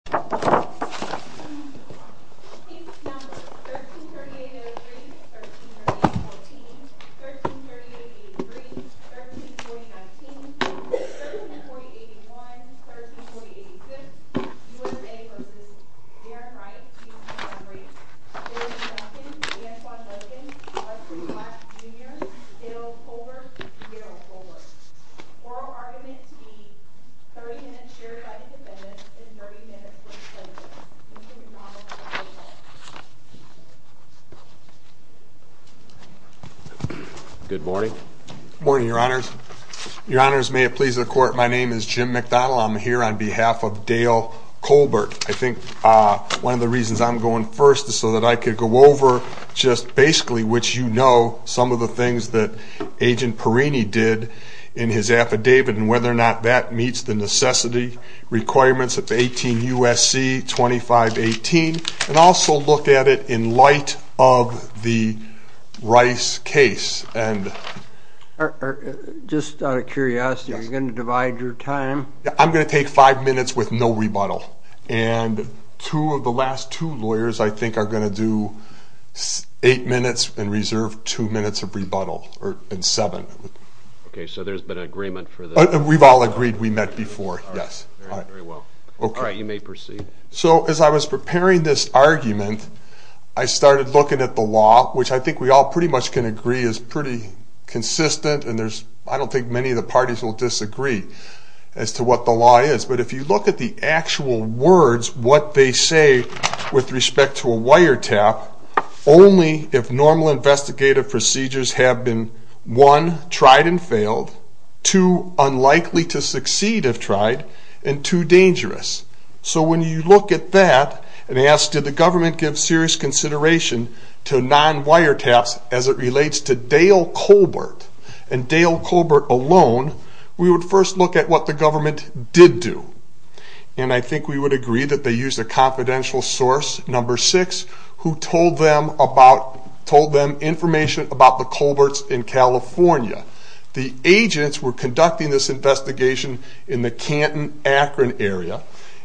1338-03, 1340-14, 1338-03, 1340-19, 1340-81, 1340-86, U.S.A. v. Darin Wright, U.S. Congress, 1340-1, 1340-1, 1340-2, 1340-3, 1340-4, 1340-5, 1340-6, 1340-7, 1340-8, 1340-9, 1340-10, 1340-11, 1340-8, 1340-9, 1340-9, 1340-10, 1340-11, 1340-12. I think I'm going to do eight minutes and reserve two minutes of rebuttal, or in seven. Okay. So there's been agreement for the… We've all agreed we met before, yes. All right. Very well. Okay. All right. You may proceed. So, as I was preparing this argument, I started looking at the law, which I think we all pretty much can agree is pretty consistent and there's… I don't think many of the parties will disagree as to what the law is. But if you look at the actual words, what they say with respect to a wiretap, only if normal investigative procedures have been, one, tried and failed, two, unlikely to succeed if tried, and two, dangerous. So when you look at that and ask, did the government give serious consideration to non-wiretaps as it relates to Dale Colbert, and Dale Colbert alone, we would first look at what the government did do. And I think we would agree that they used a confidential source, number six, who told them about… told them information about the Colberts in California. The agents were conducting this investigation in the Canton-Akron area,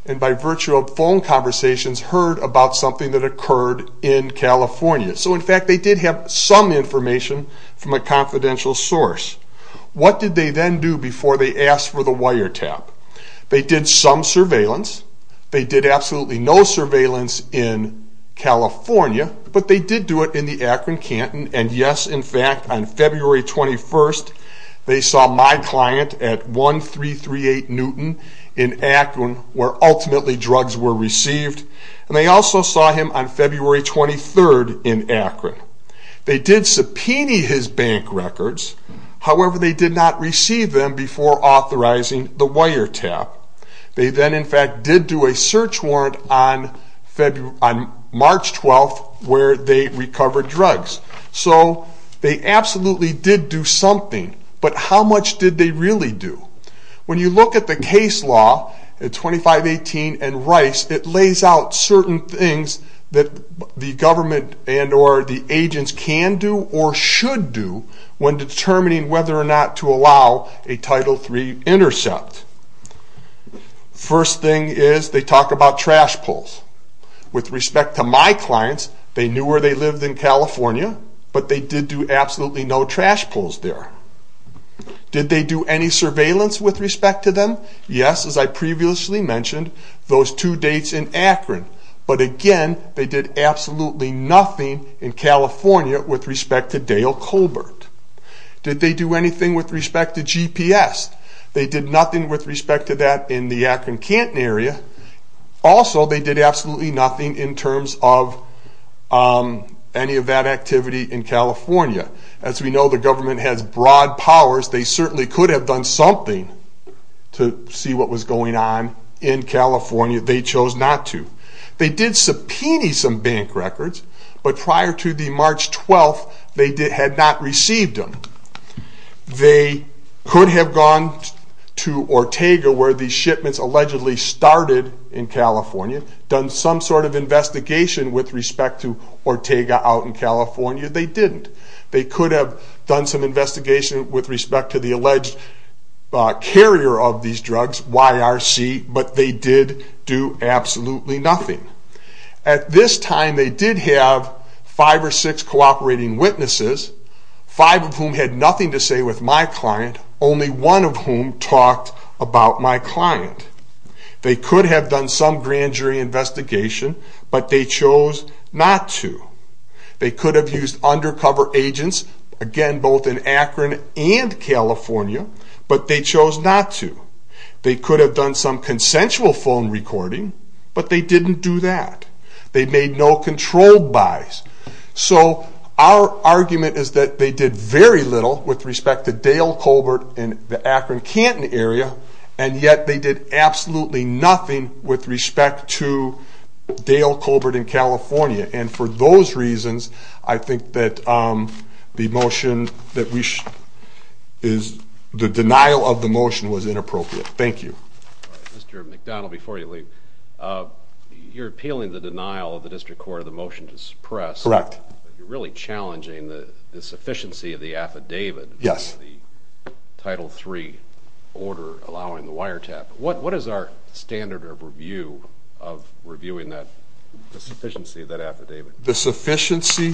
and by virtue of phone conversations, heard about something that occurred in California. So in fact, they did have some information from a confidential source. What did they then do before they asked for the wiretap? They did some surveillance. They did absolutely no surveillance in California, but they did do it in the Akron-Canton, and yes, in fact, on February 21st, they saw my client at 1338 Newton in Akron, where ultimately drugs were received, and they also saw him on February 23rd in Akron. They did subpoena his bank records, however, they did not receive them before authorizing the wiretap. They then, in fact, did do a search warrant on March 12th, where they recovered drugs. So they absolutely did do something, but how much did they really do? When you look at the case law, 2518 and Rice, it lays out certain things that the government and or the agents can do or should do when determining whether or not to allow a Title III intercept. First thing is, they talk about trash pulls. With respect to my clients, they knew where they lived in California, but they did do absolutely no trash pulls there. Did they do any surveillance with respect to them? Yes, as I previously mentioned, those two dates in Akron, but again, they did absolutely nothing in California with respect to Dale Colbert. Did they do anything with respect to GPS? They did nothing with respect to that in the Akron-Canton area. Also, they did absolutely nothing in terms of any of that activity in California. As we know, the government has broad powers. They certainly could have done something to see what was going on in California. They chose not to. They did subpoena some bank records, but prior to the March 12th, they had not received them. They could have gone to Ortega, where these shipments allegedly started in California, done some sort of investigation with respect to Ortega out in California. They didn't. They could have done some investigation with respect to the alleged carrier of these drugs, YRC, but they did do absolutely nothing. At this time, they did have five or six cooperating witnesses, five of whom had nothing to say with my client, only one of whom talked about my client. They could have done some grand jury investigation, but they chose not to. They could have used undercover agents, again, both in Akron and California, but they chose not to. They could have done some consensual phone recording, but they didn't do that. They made no controlled buys. So our argument is that they did very little with respect to Dale Colbert in the Akron-Canton area, and yet they did absolutely nothing with respect to Dale Colbert in California. And for those reasons, I think that the motion that we should...is...the denial of the motion was inappropriate. Thank you. All right. Mr. McDonald, before you leave, you're appealing the denial of the district court of the motion to suppress. Correct. But you're really challenging the sufficiency of the affidavit. Yes. The Title III order allowing the wiretap. What is our standard of review of reviewing the sufficiency of that affidavit? The sufficiency,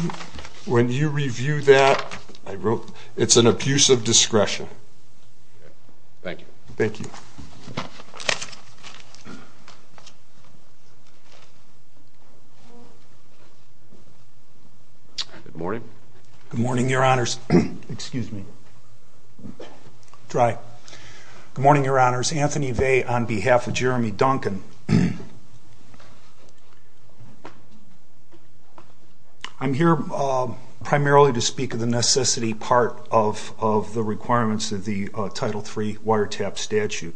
when you review that, I wrote, it's an abuse of discretion. Thank you. Thank you. Good morning. Good morning, Your Honors. Excuse me. Dry. Good morning, Your Honors. Anthony Vey on behalf of Jeremy Duncan. I'm here primarily to speak of the necessity part of the requirements of the Title III wiretap statute.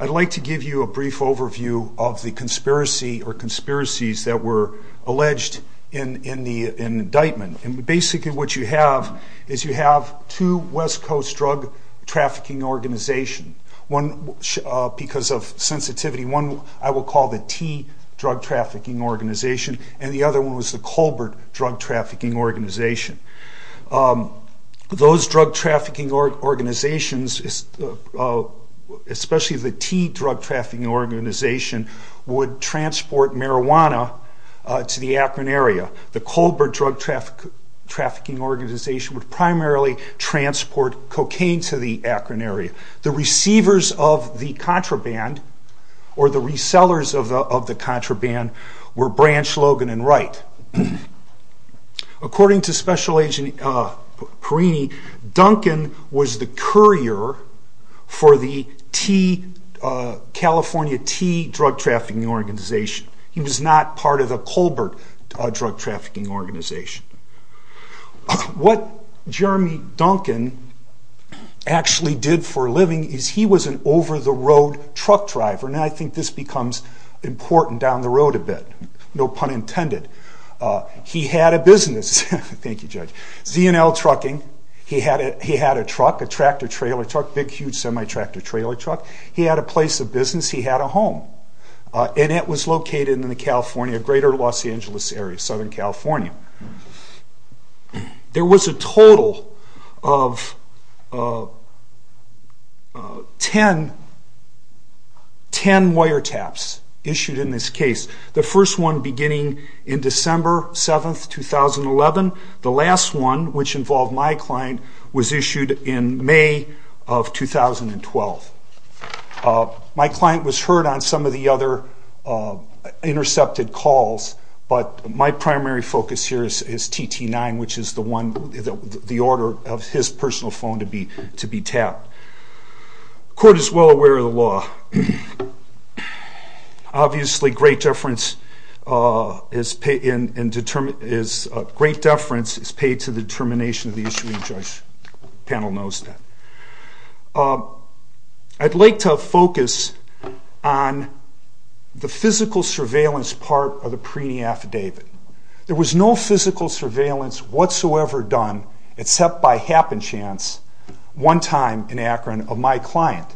I'd like to give you a brief overview of the conspiracy or conspiracies that were alleged in the indictment. And basically what you have is you have two West Coast drug trafficking organizations. One, because of sensitivity, one I will call the T Drug Trafficking Organization and the other one was the Colbert Drug Trafficking Organization. Those drug trafficking organizations, especially the T Drug Trafficking Organization, would transport marijuana to the Akron area. The Colbert Drug Trafficking Organization would primarily transport cocaine to the Akron area. The receivers of the contraband or the resellers of the contraband were Branch, Logan and Wright. According to Special Agent Perini, Duncan was the courier for the T, California T Drug Trafficking Organization. He was not part of the Colbert Drug Trafficking Organization. What Jeremy Duncan actually did for a living is he was an over-the-road truck driver, and I think this becomes important down the road a bit, no pun intended. He had a business, thank you Judge, Z&L Trucking. He had a truck, a tractor-trailer truck, a big huge semi-tractor-trailer truck. He had a place of business, he had a home, and it was located in the California, greater Los Angeles area, Southern California. There was a total of 10 wiretaps issued in this case. The first one beginning in December 7, 2011. The last one, which involved my client, was issued in May of 2012. My client was heard on some of the other intercepted calls, but my primary focus here is TT9, which is the order of his personal phone to be tapped. Court is well aware of the law. Obviously great deference is paid to the determination of the issue, and the judge panel knows that. I'd like to focus on the physical surveillance part of the Preeny affidavit. There was no physical surveillance whatsoever done except by happenchance one time in Akron of my client.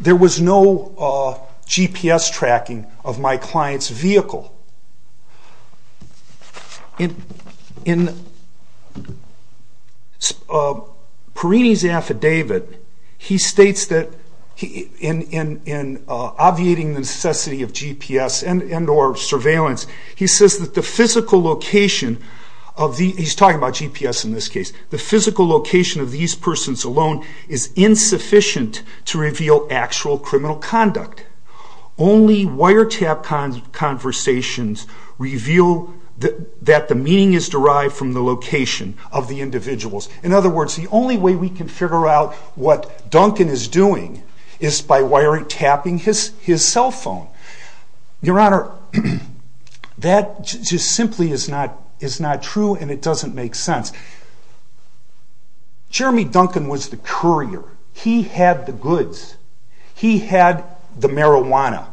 There was no GPS tracking of my client's vehicle. In Preeny's affidavit, he states that in obviating the necessity of GPS and or surveillance, he says that the physical location of these persons alone is insufficient to reveal actual criminal conduct. Only wiretap conversations reveal that the meaning is derived from the location of the individuals. In other words, the only way we can figure out what Duncan is doing is by wiretapping his cell phone. Your Honor, that just simply is not true, and it doesn't make sense. He had the goods. He had the marijuana.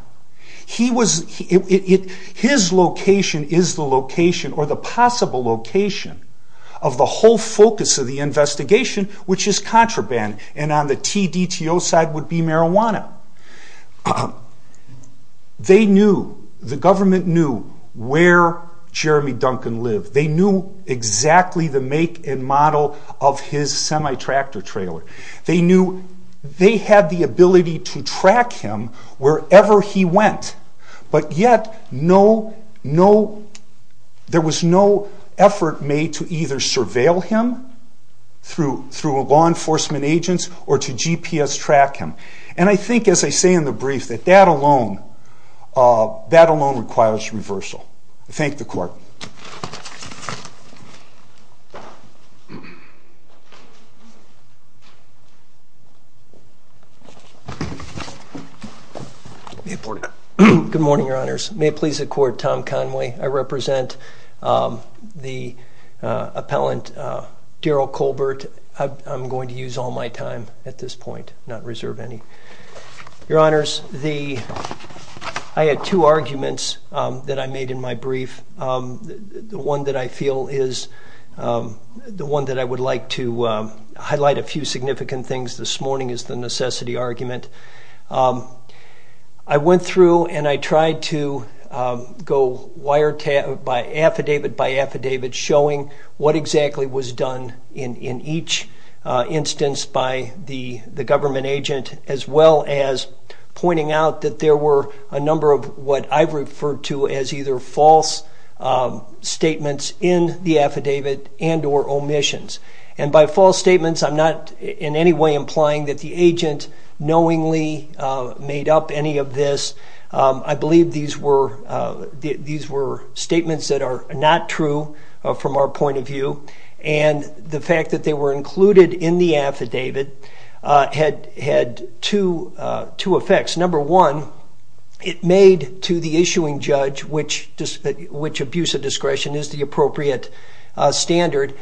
His location is the location or the possible location of the whole focus of the investigation, which is contraband, and on the TDTO side would be marijuana. The government knew where Jeremy Duncan lived. They knew exactly the make and model of his semi-tractor trailer. They knew they had the ability to track him wherever he went, but yet there was no effort made to either surveil him through law enforcement agents or to GPS track him. And I think, as I say in the brief, that that alone requires reversal. Thank the Court. Good morning, Your Honors. May it please the Court, Tom Conway. I represent the appellant, Darrell Colbert. I'm going to use all my time at this point, not reserve any. Your Honors, I had two arguments that I made in my brief. The one that I feel is the one that I would like to highlight a few significant things this morning is the necessity argument. I went through and I tried to go wiretap, affidavit by affidavit, showing what exactly was done in each instance by the government agent, as well as pointing out that there were a number of what I've referred to as either false statements in the affidavit and or omissions. And by false statements, I'm not in any way implying that the agent knowingly made up any of this. I believe these were statements that are not true from our point of view, and the fact that they were included in the affidavit had two effects. Number one, it made to the issuing judge, which abuse of discretion is the appropriate standard,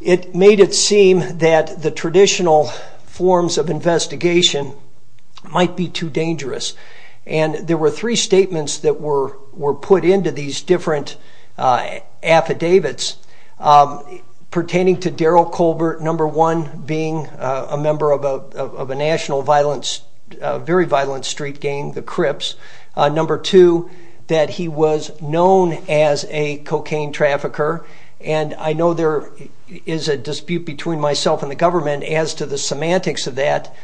it made it seem that the traditional forms of investigation might be too dangerous. And there were three statements that were put into these different affidavits pertaining to Darryl Colbert, number one, being a member of a national violent, very violent street gang, the Crips. Number two, that he was known as a cocaine trafficker, and I know there is a dispute between myself and the government as to the semantics of that.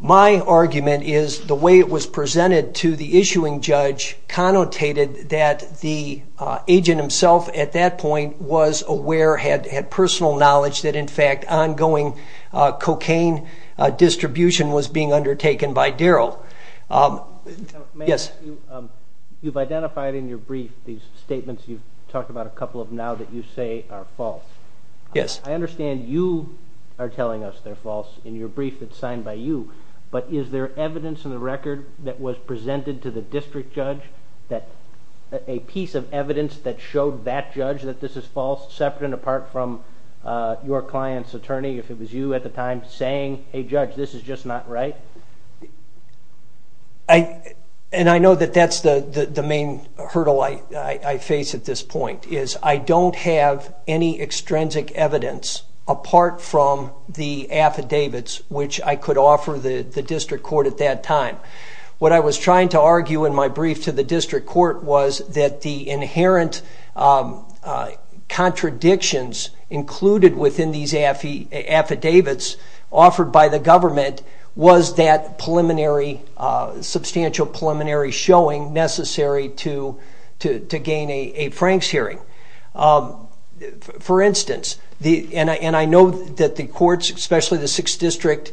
My argument is the way it was presented to the issuing judge connotated that the agent himself at that point was aware, had personal knowledge, that in fact ongoing cocaine distribution was being undertaken by Darryl. Yes? You've identified in your brief these statements you've talked about a couple of now that you say are false. Yes. I understand you are telling us they're false in your brief that's signed by you, but is there evidence in the record that was presented to the district judge that a piece of evidence that showed that judge that this is false, separate and apart from your client's attorney, if it was you at the time, saying, hey judge, this is just not right? And I know that that's the main hurdle I face at this point, is I don't have any extrinsic evidence apart from the affidavits which I could offer the district court at that time. What I was trying to argue in my brief to the district court was that the inherent contradictions included within these affidavits offered by the government was that preliminary, substantial preliminary showing necessary to gain a Franks hearing. For instance, and I know that the courts, especially the 6th District,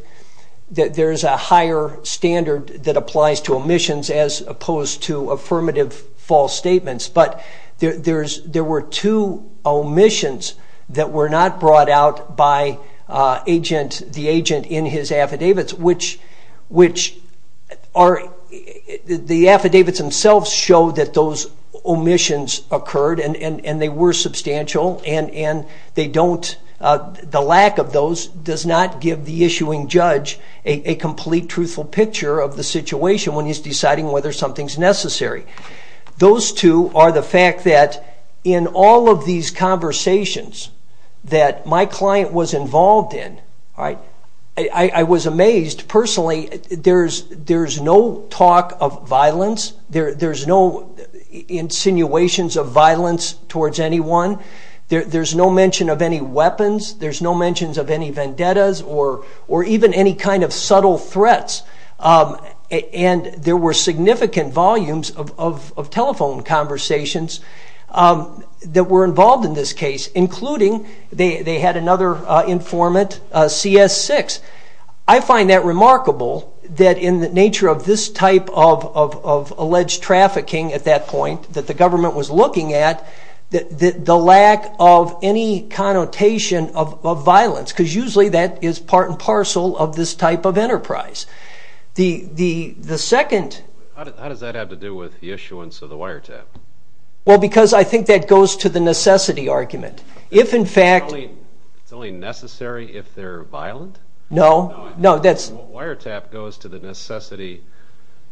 that there's a higher standard that applies to omissions as opposed to affirmative false statements, but there were two omissions that were not brought out by the agent in his affidavits. The affidavits themselves show that those omissions occurred and they were substantial and the lack of those does not give the issuing judge a complete truthful picture of the situation when he's deciding whether something's necessary. Those two are the fact that in all of these conversations that my client was involved in, I was amazed. Personally, there's no talk of violence, there's no insinuations of violence towards anyone, there's no mention of any weapons, there's no mentions of any vendettas or even any kind of subtle threats. There were significant volumes of telephone conversations that were involved in this case, including they had another informant, CS6. I find that remarkable that in the nature of this type of alleged trafficking at that point that the government was looking at, the lack of any connotation of violence, because usually that is part and parcel of this type of enterprise. The second... How does that have to do with the issuance of the wiretap? Well, because I think that goes to the necessity argument. If in fact... No. No, that's... The wiretap goes to the necessity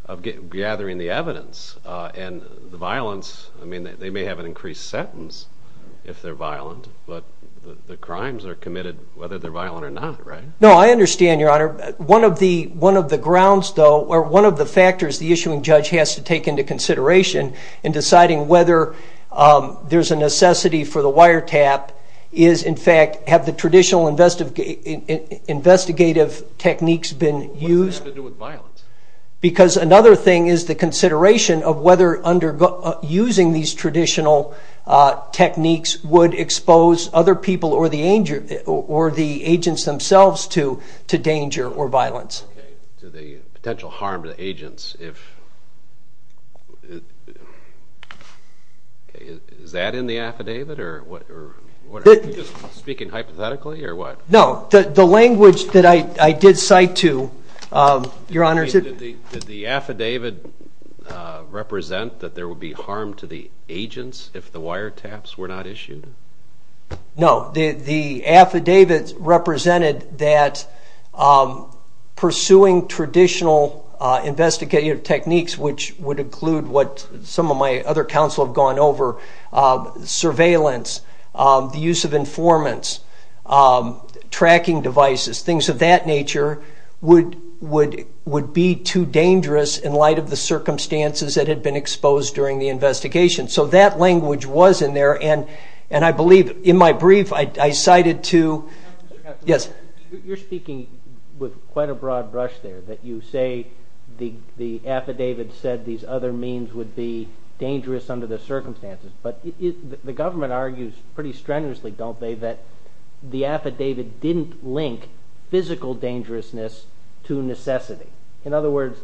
of gathering the evidence, and the violence, they may have an increased sentence if they're violent, but the crimes are committed whether they're violent or not, right? No, I understand, Your Honor. One of the grounds, though, or one of the factors the issuing judge has to take into consideration in deciding whether there's a necessity for the wiretap is, in fact, have the traditional investigative techniques been used? What does that have to do with violence? Because another thing is the consideration of whether using these traditional techniques would expose other people or the agents themselves to danger or violence. Okay, to the potential harm to the agents. Is that in the affidavit, or what... Are you just speaking hypothetically, or what? No, the language that I did cite to, Your Honor... Did the affidavit represent that there would be harm to the agents if the wiretaps were not issued? No, the affidavit represented that pursuing traditional investigative techniques, which would include what some of my other counsel have gone over, surveillance, the use of informants, tracking devices, things of that nature, would be too dangerous in light of the circumstances that had been exposed during the investigation. So that language was in there, and I believe in my brief I cited to... Counselor? Yes. You're speaking with quite a broad brush there, that you say the affidavit said these other means would be dangerous under the circumstances, but the government argues pretty strenuously, don't they, that the affidavit didn't link physical dangerousness to necessity. In other words,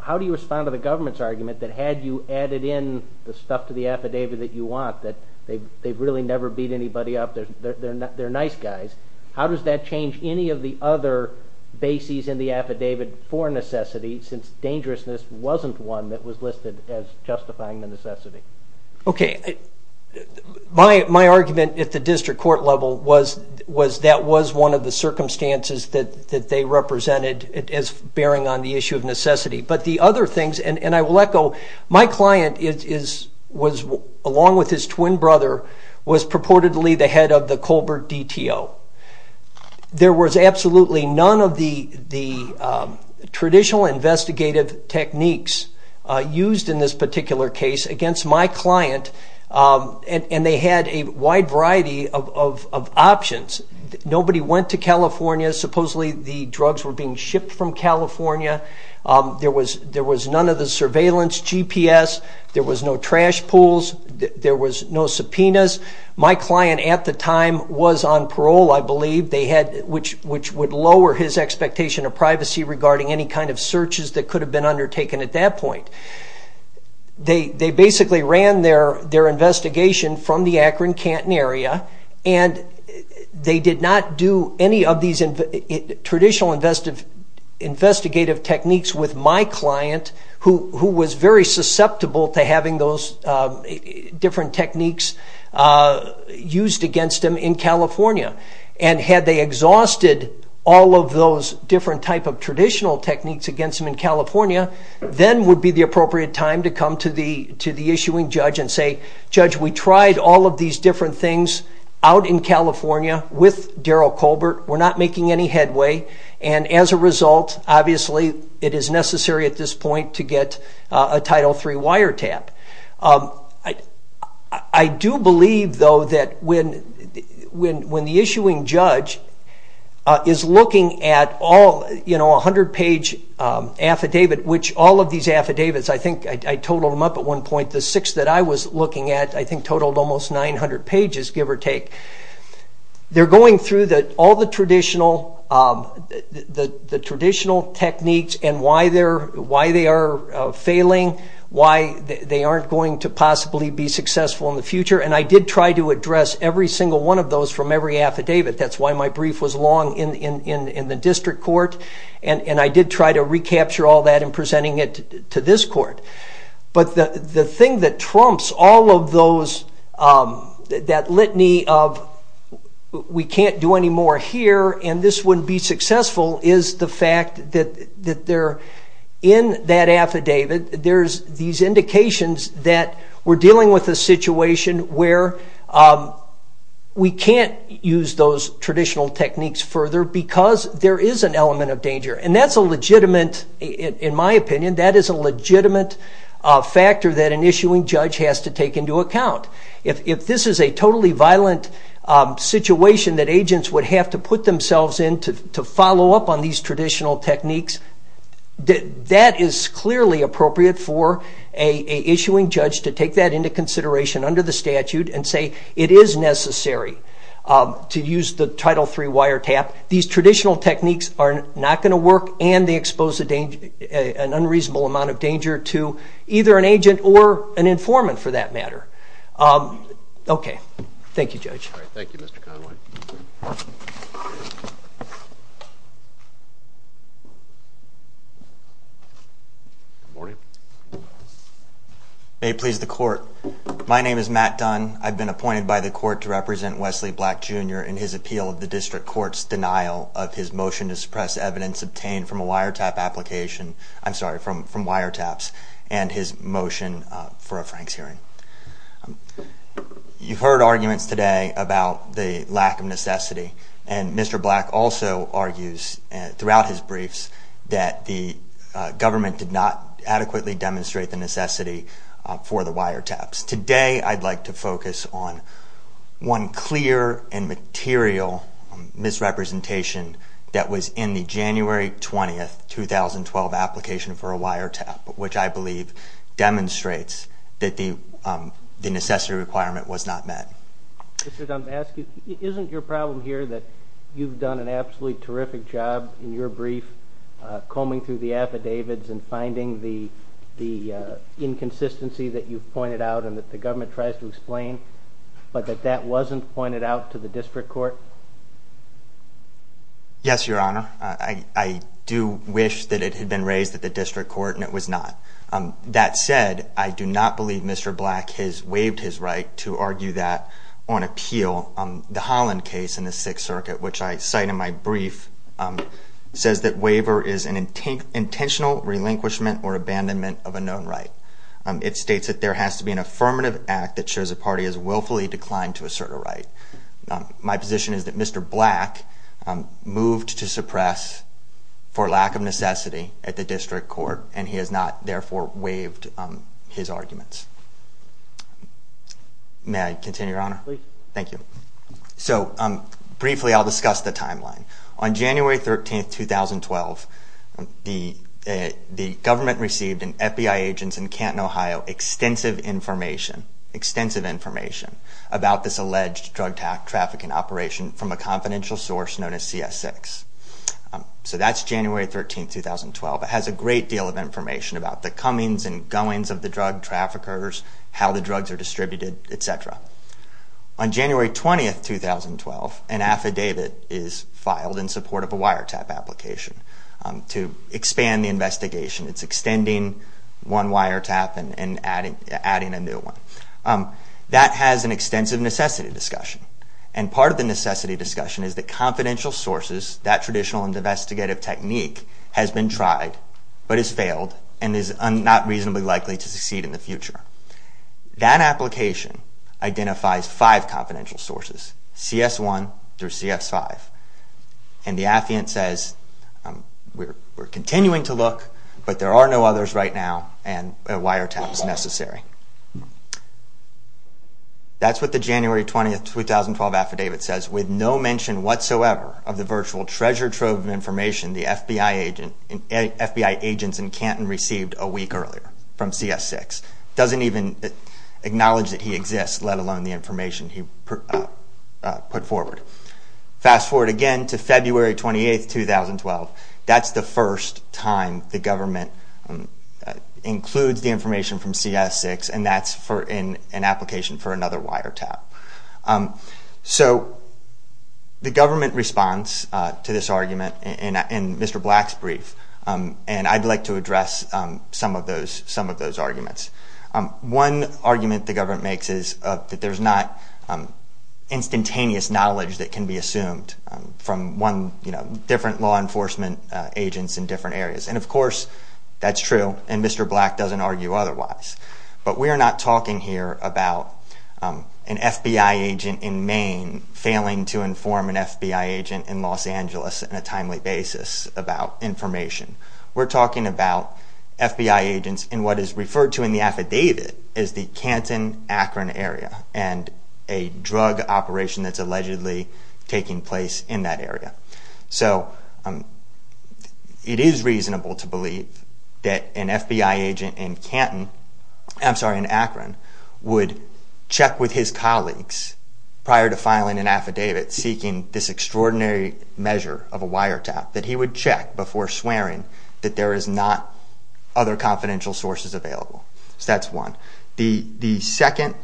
how do you respond to the government's argument that had you added in the stuff to the affidavit that you want, that they've really never beat anybody up, they're nice guys. How does that change any of the other bases in the affidavit for necessity, since dangerousness wasn't one that was listed as justifying the necessity? Okay. My argument at the district court level was that was one of the circumstances that they represented as bearing on the issue of necessity. But the other things, and I will echo, my client, along with his twin brother, was purportedly the head of the Colbert DTO. There was absolutely none of the traditional investigative techniques used in this particular case against my client, and they had a wide variety of options. Nobody went to California. Supposedly the drugs were being shipped from California. There was none of the surveillance GPS. There was no trash pools. There was no subpoenas. My client at the time was on parole, I believe, which would lower his expectation of privacy regarding any kind of searches that could have been undertaken at that point. They basically ran their investigation from the Akron-Canton area, and they did not do any of these traditional investigative techniques with my client, who was very susceptible to having those different techniques used against him in California. And had they exhausted all of those different type of traditional techniques against him in California, then would be the appropriate time to come to the issuing judge and say, Judge, we tried all of these different things out in California with Darrell Colbert. We're not making any headway, and as a result, obviously it is necessary at this point to get a Title III wiretap. I do believe, though, that when the issuing judge is looking at a 100-page affidavit, which all of these affidavits, I think I totaled them up at one point, the six that I was looking at I think totaled almost 900 pages, give or take. They're going through all the traditional techniques and why they are failing, why they aren't going to possibly be successful in the future, and I did try to address every single one of those from every affidavit. That's why my brief was long in the district court, and I did try to recapture all that in presenting it to this court. But the thing that trumps all of that litany of we can't do any more here and this wouldn't be successful is the fact that in that affidavit there's these indications that we're dealing with a situation where we can't use those traditional techniques further because there is an element of danger. And that's a legitimate, in my opinion, that is a legitimate factor that an issuing judge has to take into account. If this is a totally violent situation that agents would have to put themselves in to follow up on these traditional techniques, that is clearly appropriate for an issuing judge to take that into consideration under the statute and say it is necessary to use the Title III wiretap. These traditional techniques are not going to work and they expose an unreasonable amount of danger to either an agent or an informant for that matter. Okay. Thank you, Judge. All right. Thank you, Mr. Conway. Good morning. May it please the court. My name is Matt Dunn. I've been appointed by the court to represent Wesley Black, Jr. in his appeal of the district court's denial of his motion to suppress evidence obtained from a wiretap application – I'm sorry, from wiretaps – and his motion for a Franks hearing. You've heard arguments today about the lack of necessity, and Mr. Black also argues throughout his briefs that the government did not adequately demonstrate the necessity for the wiretaps. Today, I'd like to focus on one clear and material misrepresentation that was in the January 20, 2012 application for a wiretap, which I believe demonstrates that the necessity requirement was not met. Mr. Dunn, I'm going to ask you, isn't your problem here that you've done an absolutely terrific job in your brief, combing through the affidavits and finding the inconsistency that you've pointed out and that the government tries to explain, but that that wasn't pointed out to the district court? Yes, Your Honor. I do wish that it had been raised at the district court, and it was not. That said, I do not believe Mr. Black has waived his right to argue that on appeal. The Holland case in the Sixth Circuit, which I cite in my brief, says that waiver is an intentional relinquishment or abandonment of a known right. It states that there has to be an affirmative act that shows a party has willfully declined to assert a right. My position is that Mr. Black moved to suppress for lack of necessity at the district court, and he has not, therefore, waived his arguments. May I continue, Your Honor? Thank you. So, briefly, I'll discuss the timeline. On January 13, 2012, the government received, and FBI agents in Canton, Ohio, extensive information, extensive information, about this alleged drug trafficking operation from a confidential source known as CS6. So that's January 13, 2012. It has a great deal of information about the comings and goings of the drug traffickers, how the drugs are distributed, et cetera. On January 20, 2012, an affidavit is filed in support of a wiretap application to expand the investigation. It's extending one wiretap and adding a new one. That has an extensive necessity discussion, and part of the necessity discussion is that confidential sources, that traditional and investigative technique, has been tried but has failed and is not reasonably likely to succeed in the future. That application identifies five confidential sources, CS1 through CS5, and the affidavit says we're continuing to look, but there are no others right now, and a wiretap is necessary. That's what the January 20, 2012, affidavit says. With no mention whatsoever of the virtual treasure trove of information the FBI agents in Canton received a week earlier from CS6. It doesn't even acknowledge that he exists, let alone the information he put forward. Fast forward again to February 28, 2012. That's the first time the government includes the information from CS6, and that's in an application for another wiretap. So, the government responds to this argument in Mr. Black's brief, and I'd like to address some of those arguments. One argument the government makes is that there's not instantaneous knowledge that can be assumed from one, you know, different law enforcement agents in different areas, and of course, that's true, and Mr. Black doesn't argue otherwise, but we are not talking here about an FBI agent in Maine failing to inform an FBI agent in Los Angeles on a timely basis about information. We're talking about FBI agents in what is referred to in the affidavit as the Canton-Akron area, and a drug operation that's allegedly taking place in that area. So, it is reasonable to believe that an FBI agent in Canton, I'm sorry, in Akron, would check with his colleagues prior to filing an affidavit seeking this extraordinary measure of a wiretap, that he would check before swearing that there is not other confidential sources available. So, that's one. The second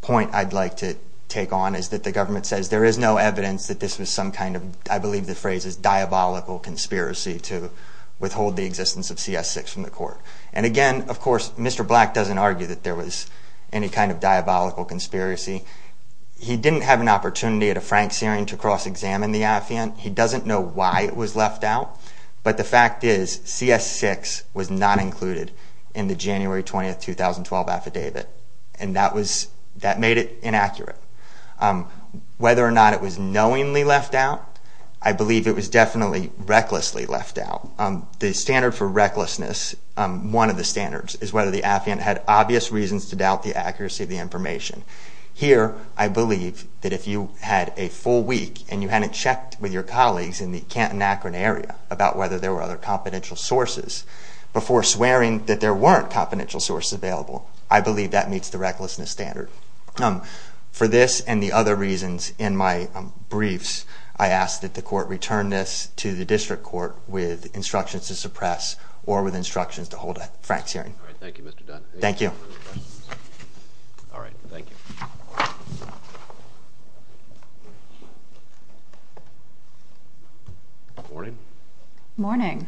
point I'd like to take on is that the government says there is no evidence that this was some kind of, I believe the phrase is, diabolical conspiracy to withhold the existence of CS6 from the court. And again, of course, Mr. Black doesn't argue that there was any kind of diabolical conspiracy. He didn't have an opportunity at a Frank Searing to cross-examine the affiant. He doesn't know why it was left out, but the fact is, CS6 was not included in the January 20, 2012 affidavit, and that made it inaccurate. Whether or not it was knowingly left out, I believe it was definitely recklessly left out. The standard for recklessness, one of the standards, is whether the affiant had obvious reasons to doubt the accuracy of the information. Here, I believe that if you had a full week and you hadn't checked with your colleagues in the Canton, Akron area about whether there were other confidential sources before swearing that there weren't confidential sources available, I believe that meets the recklessness standard. For this and the other reasons in my briefs, I ask that the court return this to the district court with instructions to suppress or with instructions to hold a Frank Searing. Thank you, Mr. Dunn. Thank you. All right. Thank you. Morning. Morning.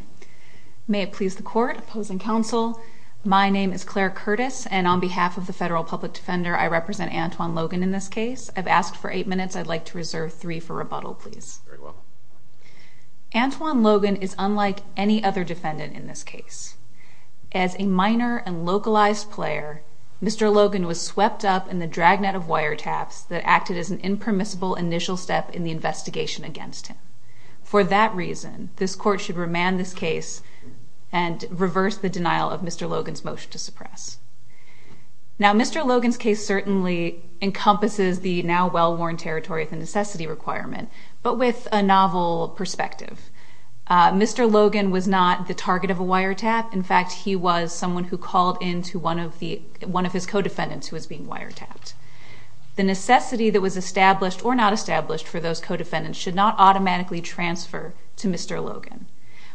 May it please the court, opposing counsel, my name is Claire Curtis, and on behalf of the Federal Public Defender, I represent Antwon Logan in this case. I've asked for eight minutes. I'd like to reserve three for rebuttal, please. Antwon Logan is unlike any other defendant in this case. As a minor and localized player, Mr. Logan was swept up in the dragnet of wiretaps that acted as an impermissible initial step in the investigation against him. For that reason, this court should remand this case and reverse the denial of Mr. Logan's motion to suppress. Now, Mr. Logan's case certainly encompasses the now well-worn territory of the necessity requirement, but with a novel perspective. Mr. Logan was not the target of a wiretap. In fact, he was someone who called into one of his co-defendants who was being wiretapped. The necessity that was established or not established for those co-defendants should not automatically transfer to Mr. Logan.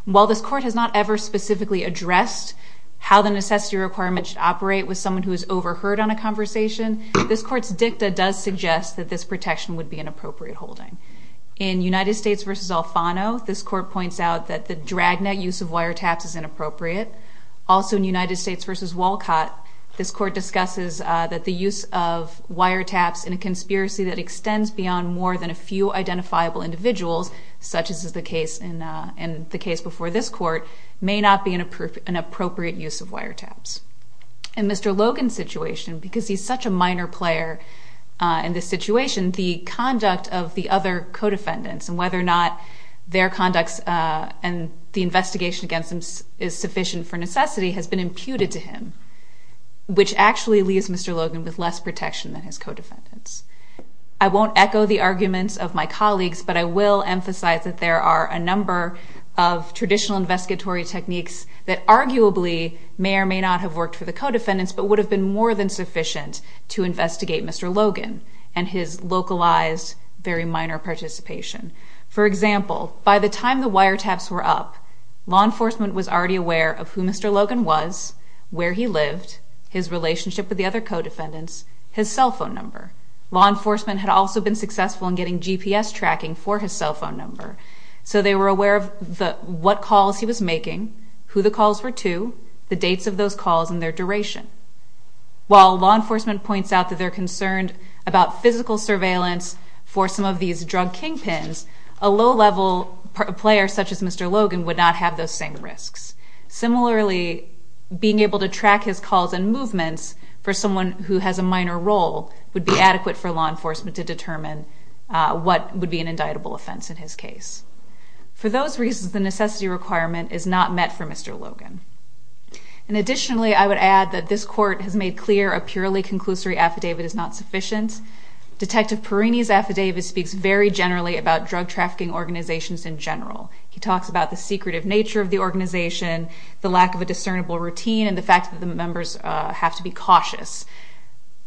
While this court has not ever specifically addressed how the necessity requirement should operate with someone who is overheard on a conversation, this court's dicta does suggest that this protection would be an appropriate holding. In United States v. Alfano, this court points out that the dragnet use of wiretaps is inappropriate. Also in United States v. Walcott, this court discusses that the use of wiretaps in a conspiracy that extends beyond more than a few identifiable individuals, such as the case before this court, may not be an appropriate use of wiretaps. In Mr. Logan's situation, because he's such a minor player in this situation, the conduct of the other co-defendants and whether or not their conducts and the investigation against them is sufficient for necessity has been imputed to him, which actually leaves Mr. Logan to the co-defendants. I won't echo the arguments of my colleagues, but I will emphasize that there are a number of traditional investigatory techniques that arguably may or may not have worked for the co-defendants, but would have been more than sufficient to investigate Mr. Logan and his localized very minor participation. For example, by the time the wiretaps were up, law enforcement was already aware of who Mr. Logan was, where he lived, his relationship with the other co-defendants, his cell phone number. Law enforcement had also been successful in getting GPS tracking for his cell phone number, so they were aware of what calls he was making, who the calls were to, the dates of those calls and their duration. While law enforcement points out that they're concerned about physical surveillance for some of these drug kingpins, a low-level player such as Mr. Logan would not have those same risks. Similarly, being able to track his calls and movements for someone who has a minor role would be adequate for law enforcement to determine what would be an indictable offense in his case. For those reasons, the necessity requirement is not met for Mr. Logan. And additionally, I would add that this court has made clear a purely conclusory affidavit is not sufficient. Detective Perrini's affidavit speaks very generally about drug trafficking organizations in general. He talks about the secretive nature of the organization, the lack of a discernible routine, and the fact that the members have to be cautious.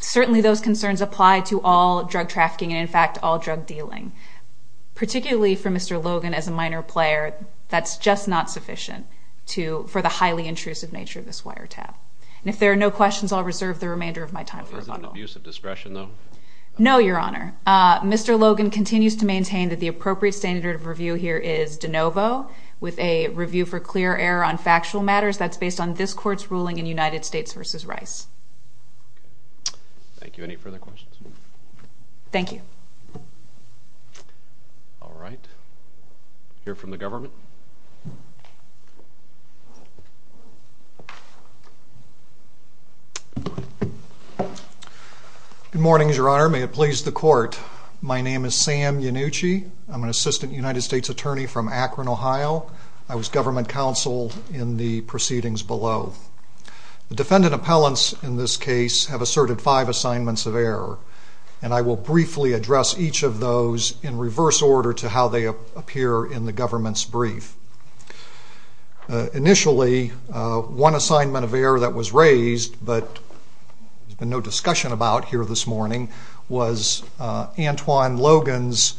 Certainly those concerns apply to all drug trafficking and, in fact, all drug dealing. Particularly for Mr. Logan as a minor player, that's just not sufficient for the highly intrusive nature of this wiretap. And if there are no questions, I'll reserve the remainder of my time for rebuttal. Is it an abuse of discretion, though? No, Your Honor. Mr. Logan continues to maintain that the appropriate standard of review here is de novo, with a review for clear error on factual matters. That's based on this court's ruling in United States v. Rice. Thank you. Any further questions? Thank you. All right. We'll hear from the government. Good morning, Your Honor. Your Honor, may it please the Court, my name is Sam Yannucci. I'm an assistant United States attorney from Akron, Ohio. I was government counsel in the proceedings below. The defendant appellants in this case have asserted five assignments of error, and I will briefly address each of those in reverse order to how they appear in the government's brief. Initially, one assignment of error that was raised, but there's been no discussion about here this morning, was Antwon Logan's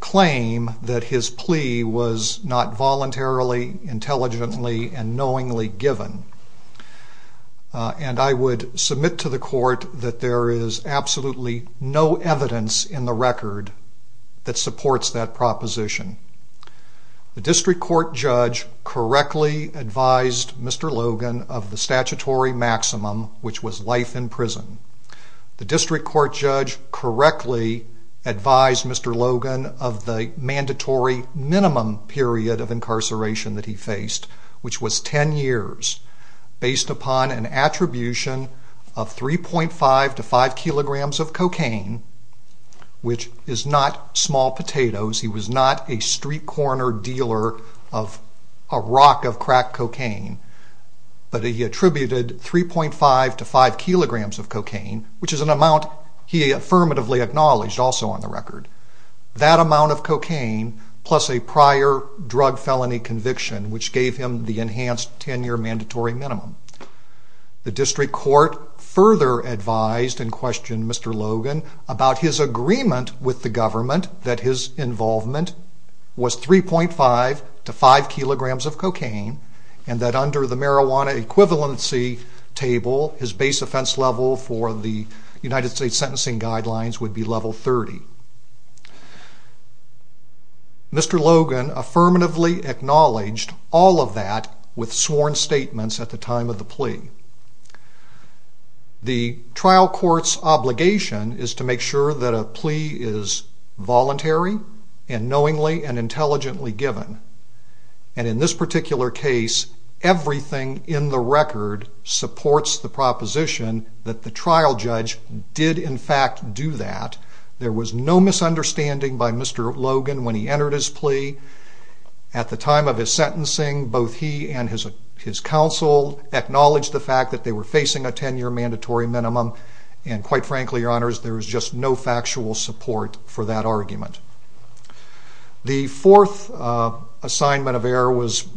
claim that his plea was not voluntarily, intelligently, and knowingly given. And I would submit to the Court that there is absolutely no evidence in the record that supports that proposition. The district court judge correctly advised Mr. Logan of the statutory maximum, which was life in prison. The district court judge correctly advised Mr. Logan of the mandatory minimum period of incarceration that he faced, which was 10 years, based upon an attribution of 3.5 to 5 kilograms of cocaine, which is not small potatoes. He was not a street corner dealer of a rock of cracked cocaine, but he attributed 3.5 to 5 kilograms of cocaine, which is an amount he affirmatively acknowledged also on the record. That amount of cocaine, plus a prior drug felony conviction, which gave him the enhanced 10-year mandatory minimum. The district court further advised and questioned Mr. Logan about his agreement with the government that his involvement was 3.5 to 5 kilograms of cocaine, and that under the marijuana equivalency table, his base offense level for the United States Sentencing Guidelines would be level 30. Mr. Logan affirmatively acknowledged all of that with sworn statements at the time of the plea. The trial court's obligation is to make sure that a plea is voluntary, and knowingly and intelligently given. In this particular case, everything in the record supports the proposition that the trial judge did in fact do that. There was no misunderstanding by Mr. Logan when he entered his plea. At the time of his sentencing, both he and his counsel acknowledged the fact that they were facing a 10-year mandatory minimum, and quite frankly, your honors, there was just no factual support for that argument. The fourth assignment of error was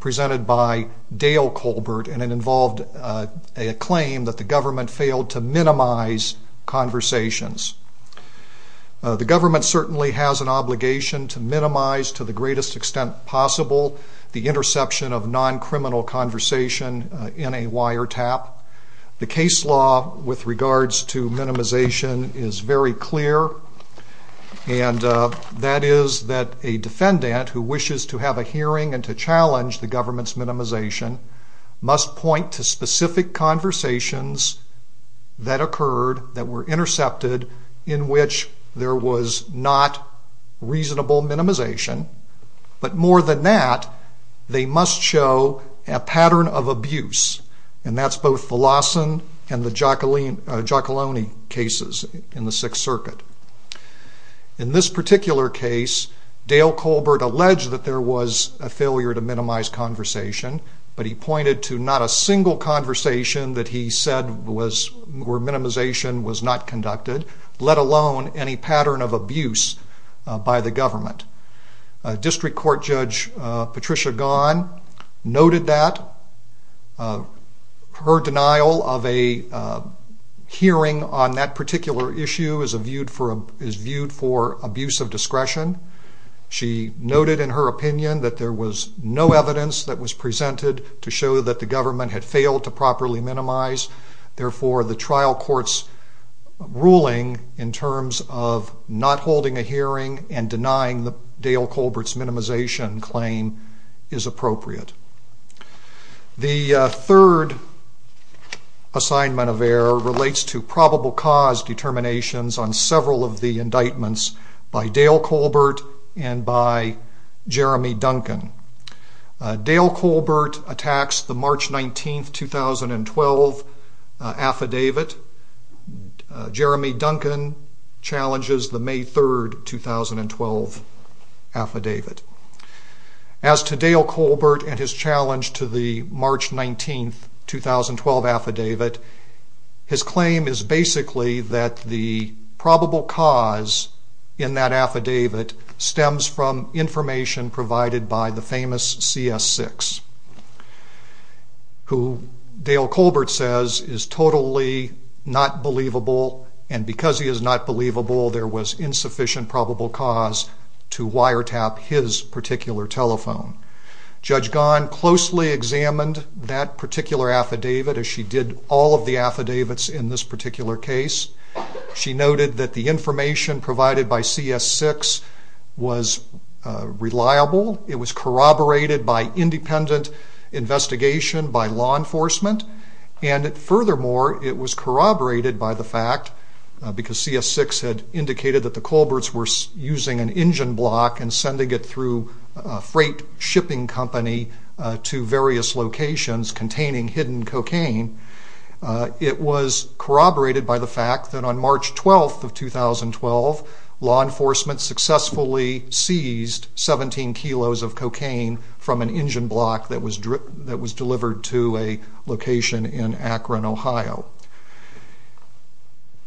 presented by Dale Colbert, and it involved a claim that the government failed to minimize conversations. The government certainly has an obligation to minimize to the greatest extent possible the interception of non-criminal conversation in a wiretap. The case law with regards to minimization is very clear, and that is that a defendant who wishes to have a hearing and to challenge the government's minimization must point to specific conversations that occurred that were intercepted in which there was not reasonable minimization, but more than that, they must show a pattern of abuse, and that's both a Lawson and the Giacalone cases in the Sixth Circuit. In this particular case, Dale Colbert alleged that there was a failure to minimize conversation, but he pointed to not a single conversation that he said where minimization was not conducted, let alone any pattern of abuse by the government. District Court Judge Patricia Gaughan noted that her denial of a hearing on that particular issue is viewed for abuse of discretion. She noted in her opinion that there was no evidence that was presented to show that the government had failed to properly minimize, therefore the trial court's ruling in terms of not holding a hearing and denying Dale Colbert's minimization claim is appropriate. The third assignment of error relates to probable cause determinations on several of the indictments by Dale Colbert and by Jeremy Duncan. Dale Colbert attacks the March 19, 2012 affidavit and Jeremy Duncan challenges the May 3, 2012 affidavit. As to Dale Colbert and his challenge to the March 19, 2012 affidavit, his claim is basically that the probable cause in that affidavit stems from information provided by the famous CS6, who Dale Colbert says is totally not believable and because he is not believable there was insufficient probable cause to wiretap his particular telephone. Judge Gaughan closely examined that particular affidavit as she did all of the affidavits in this particular case. She noted that the information provided by CS6 was reliable, it was corroborated by independent investigation by law enforcement, and furthermore it was corroborated by the fact, because CS6 had indicated that the Colberts were using an engine block and sending it through a freight shipping company to various locations containing hidden cocaine, it was corroborated by the fact that on March 12, 2012 law enforcement successfully seized 17 kilos of cocaine from an engine block that was delivered to a location in Akron, Ohio.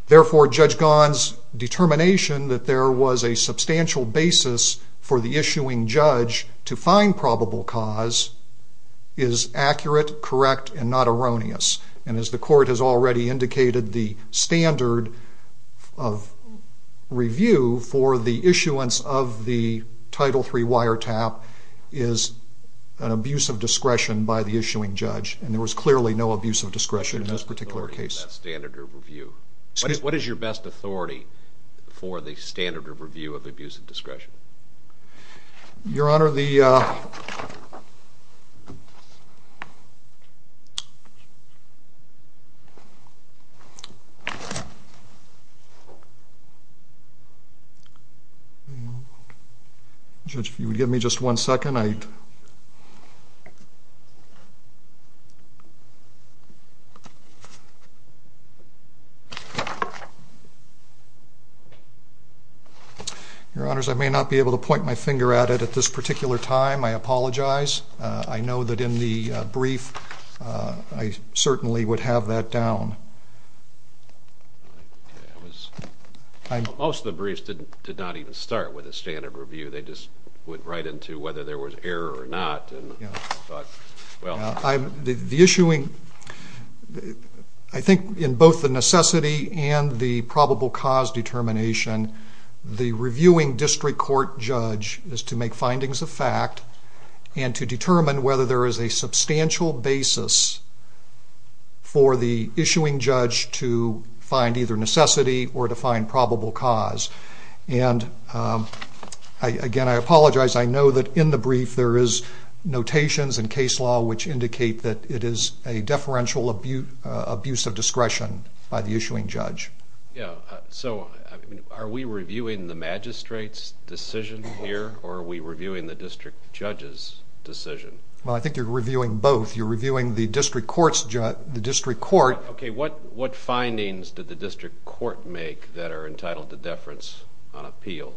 Therefore Judge Gaughan's determination that there was a substantial basis for the issuing judge to find probable cause is accurate, correct, and not erroneous. And as the court has already indicated, the standard of review for the issuance of the Title III wiretap is an abuse of discretion by the issuing judge, and there was clearly no abuse of discretion in this particular case. What is your best authority in that standard of review? What is your best authority for the standard of review of abuse of discretion? Judge, if you would give me just one second. Your Honors, I may not be able to point my finger at it at this particular time. I apologize. I know that in the brief I certainly would have that down. Most of the briefs did not even start with a standard of review. They just went right into whether there was error or not. The issuing, I think in both the necessity and the probable cause determination, the determination of whether there is a substantial basis for the issuing judge to find either necessity or to find probable cause. Again I apologize. I know that in the brief there is notations in case law which indicate that it is a deferential abuse of discretion by the issuing judge. Are we reviewing the magistrate's decision here or are we reviewing the district judge's decision? I think you are reviewing both. You are reviewing the district court's decision. What findings did the district court make that are entitled to deference on appeal?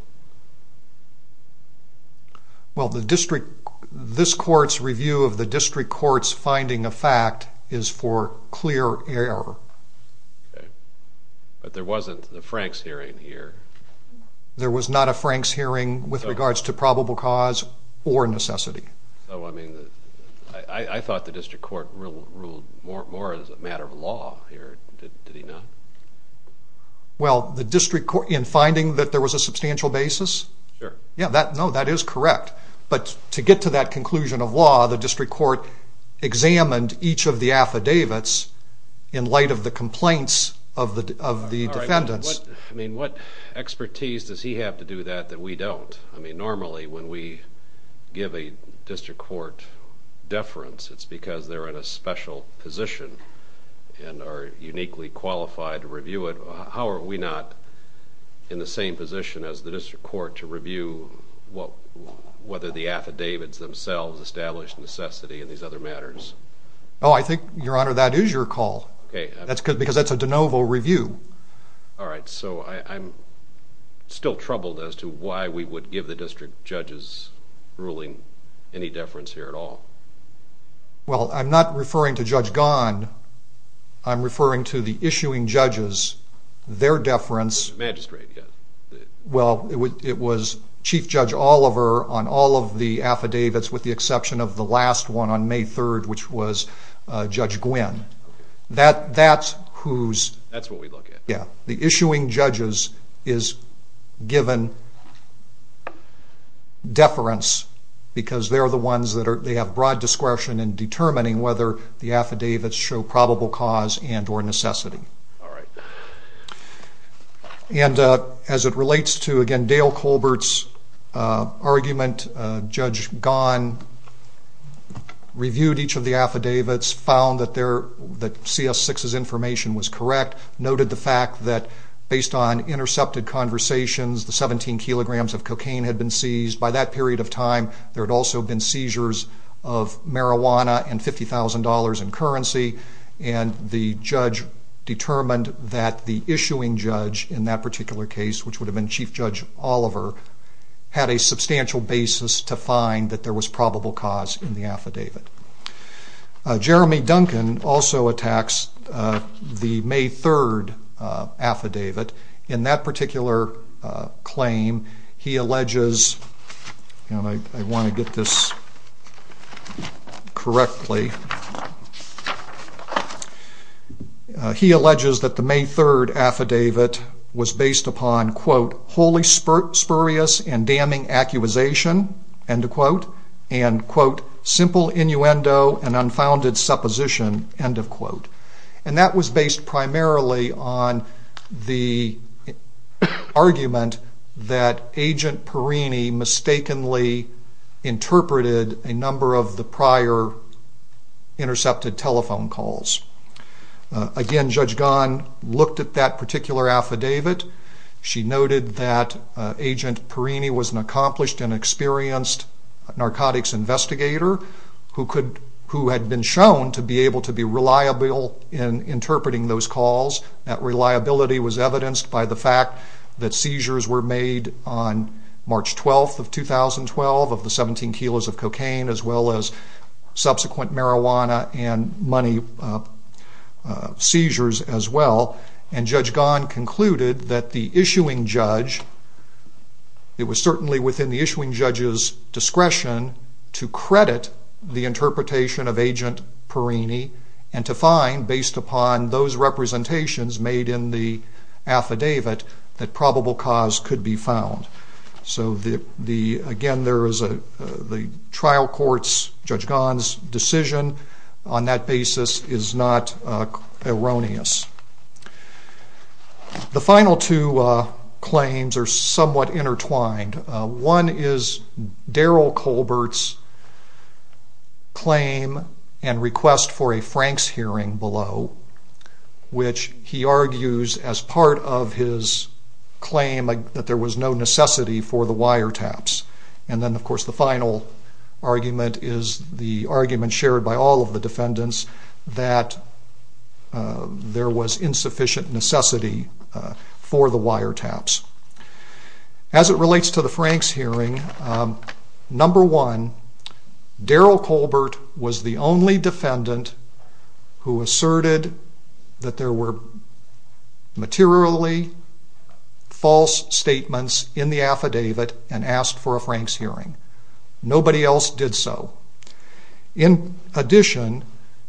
This court's review of the district court's finding of fact is for clear error. But there wasn't the Frank's hearing here. There was not a Frank's hearing with regards to probable cause or necessity. I thought the district court ruled more as a matter of law here. Did he not? Well the district court in finding that there was a substantial basis, no that is correct. But to get to that conclusion of law the district court examined each of the affidavits in light of the complaints of the defendants. What expertise does he have to do that that we don't? Normally when we give a district court deference it is because they are in a special position and are uniquely qualified to review it. How are we not in the same position as the district court to review whether the affidavits themselves establish necessity in these other matters? I think your honor that is your call because that is a de novo review. Alright so I'm still troubled as to why we would give the district judges ruling any deference here at all. Well I'm not referring to Judge Gahn, I'm referring to the issuing judges, their deference. Well it was Chief Judge Oliver on all of the affidavits with the exception of the last one on May 3rd which was Judge Gwinn. The issuing judges is given deference because they are the ones that have broad discretion in determining whether the affidavits show probable cause and or necessity. And as it relates to again Dale Colbert's argument, Judge Gahn, Judge Gwinn and Judge reviewed each of the affidavits, found that CS6's information was correct, noted the fact that based on intercepted conversations the 17 kilograms of cocaine had been seized. By that period of time there had also been seizures of marijuana and $50,000 in currency and the judge determined that the issuing judge in that particular case, which would have been Chief Judge Oliver, had a substantial basis to find that there was probable cause in the affidavit. Jeremy Duncan also attacks the May 3rd affidavit. In that particular claim he alleges, and I want to get this correctly, he alleges that the May 3rd affidavit was based upon quote wholly spurious and damning accusation end of quote and quote simple innuendo and unfounded supposition end of quote. And that was based primarily on the argument that Agent Perini mistakenly interpreted a number of the prior intercepted telephone calls. Again, Judge Gahn looked at that particular affidavit. She noted that Agent Perini was an accomplished and experienced narcotics investigator who had been shown to be able to be reliable in interpreting those calls. That reliability was evidenced by the fact that seizures were made on March 12th of 2012 of the 17 kilos of cocaine as well as subsequent marijuana and money seizures as well. And Judge Gahn concluded that the issuing judge, it was certainly within the issuing judge's discretion to credit the interpretation of Agent Perini and to find based upon those representations made in the affidavit that probable cause could be found. So again, the trial court's, Judge Gahn's decision on that basis is not erroneous. The final two claims are somewhat intertwined. One is Daryl Colbert's claim and request for a Franks hearing below, which he argues as part of his claim that there was no necessity for the wiretaps. And then of course the final argument is the argument shared by all of the defendants that there was insufficient necessity for the wiretaps. As it relates to the Franks hearing, number one, Daryl Colbert was the only defendant who asserted that there were materially false statements in the affidavit and asked for a Franks hearing. Nobody else did so. In addition,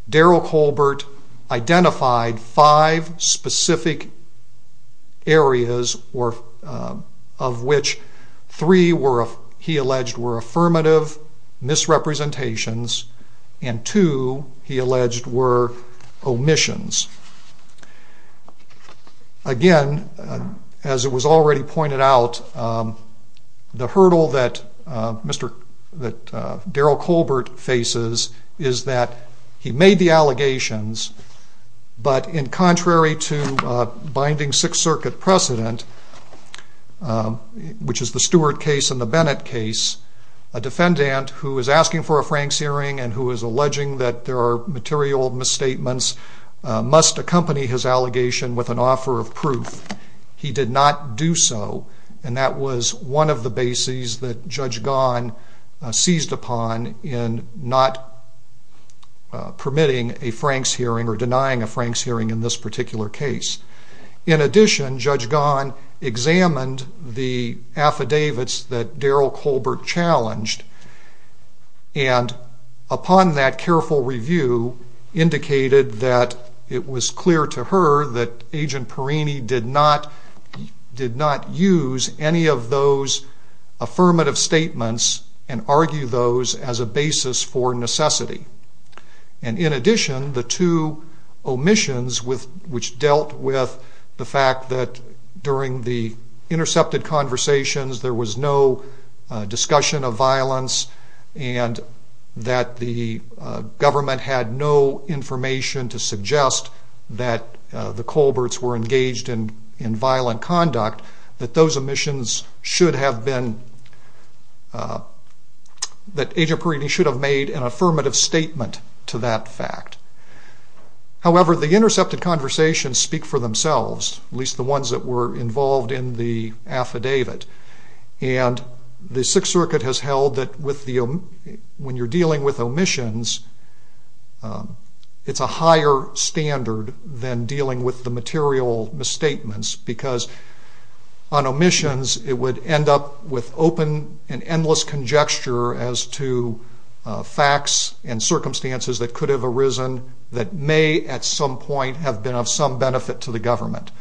Daryl Colbert identified five specific areas of which three, he alleged, were affirmative misrepresentations and two, he alleged, were omissions. Again, as it was already pointed out, the hurdle that Daryl Colbert faces is that he made the allegations, but in contrary to binding Sixth Circuit precedent, which is the Stuart case and the Bennett case, a defendant who is asking for a Franks hearing and who is making material misstatements must accompany his allegation with an offer of proof. He did not do so and that was one of the bases that Judge Gaughan seized upon in not permitting a Franks hearing or denying a Franks hearing in this particular case. In addition, Judge Gaughan examined the affidavits that Daryl Colbert challenged and upon that careful review indicated that it was clear to her that Agent Perrini did not use any of those affirmative statements and argue those as a basis for necessity. In addition, the two omissions which dealt with the fact that during the intercepted conversations there was no discussion of violence and that the government had no information to suggest that the Colberts were engaged in violent conduct, that Agent Perrini should have made an affirmative statement to that fact. However, the intercepted conversations speak for themselves, at least the ones that were made. The Sixth Circuit has held that when you are dealing with omissions, it is a higher standard than dealing with the material misstatements because on omissions it would end up with open and endless conjecture as to facts and circumstances that could have arisen that may at some point have been of some benefit to the government.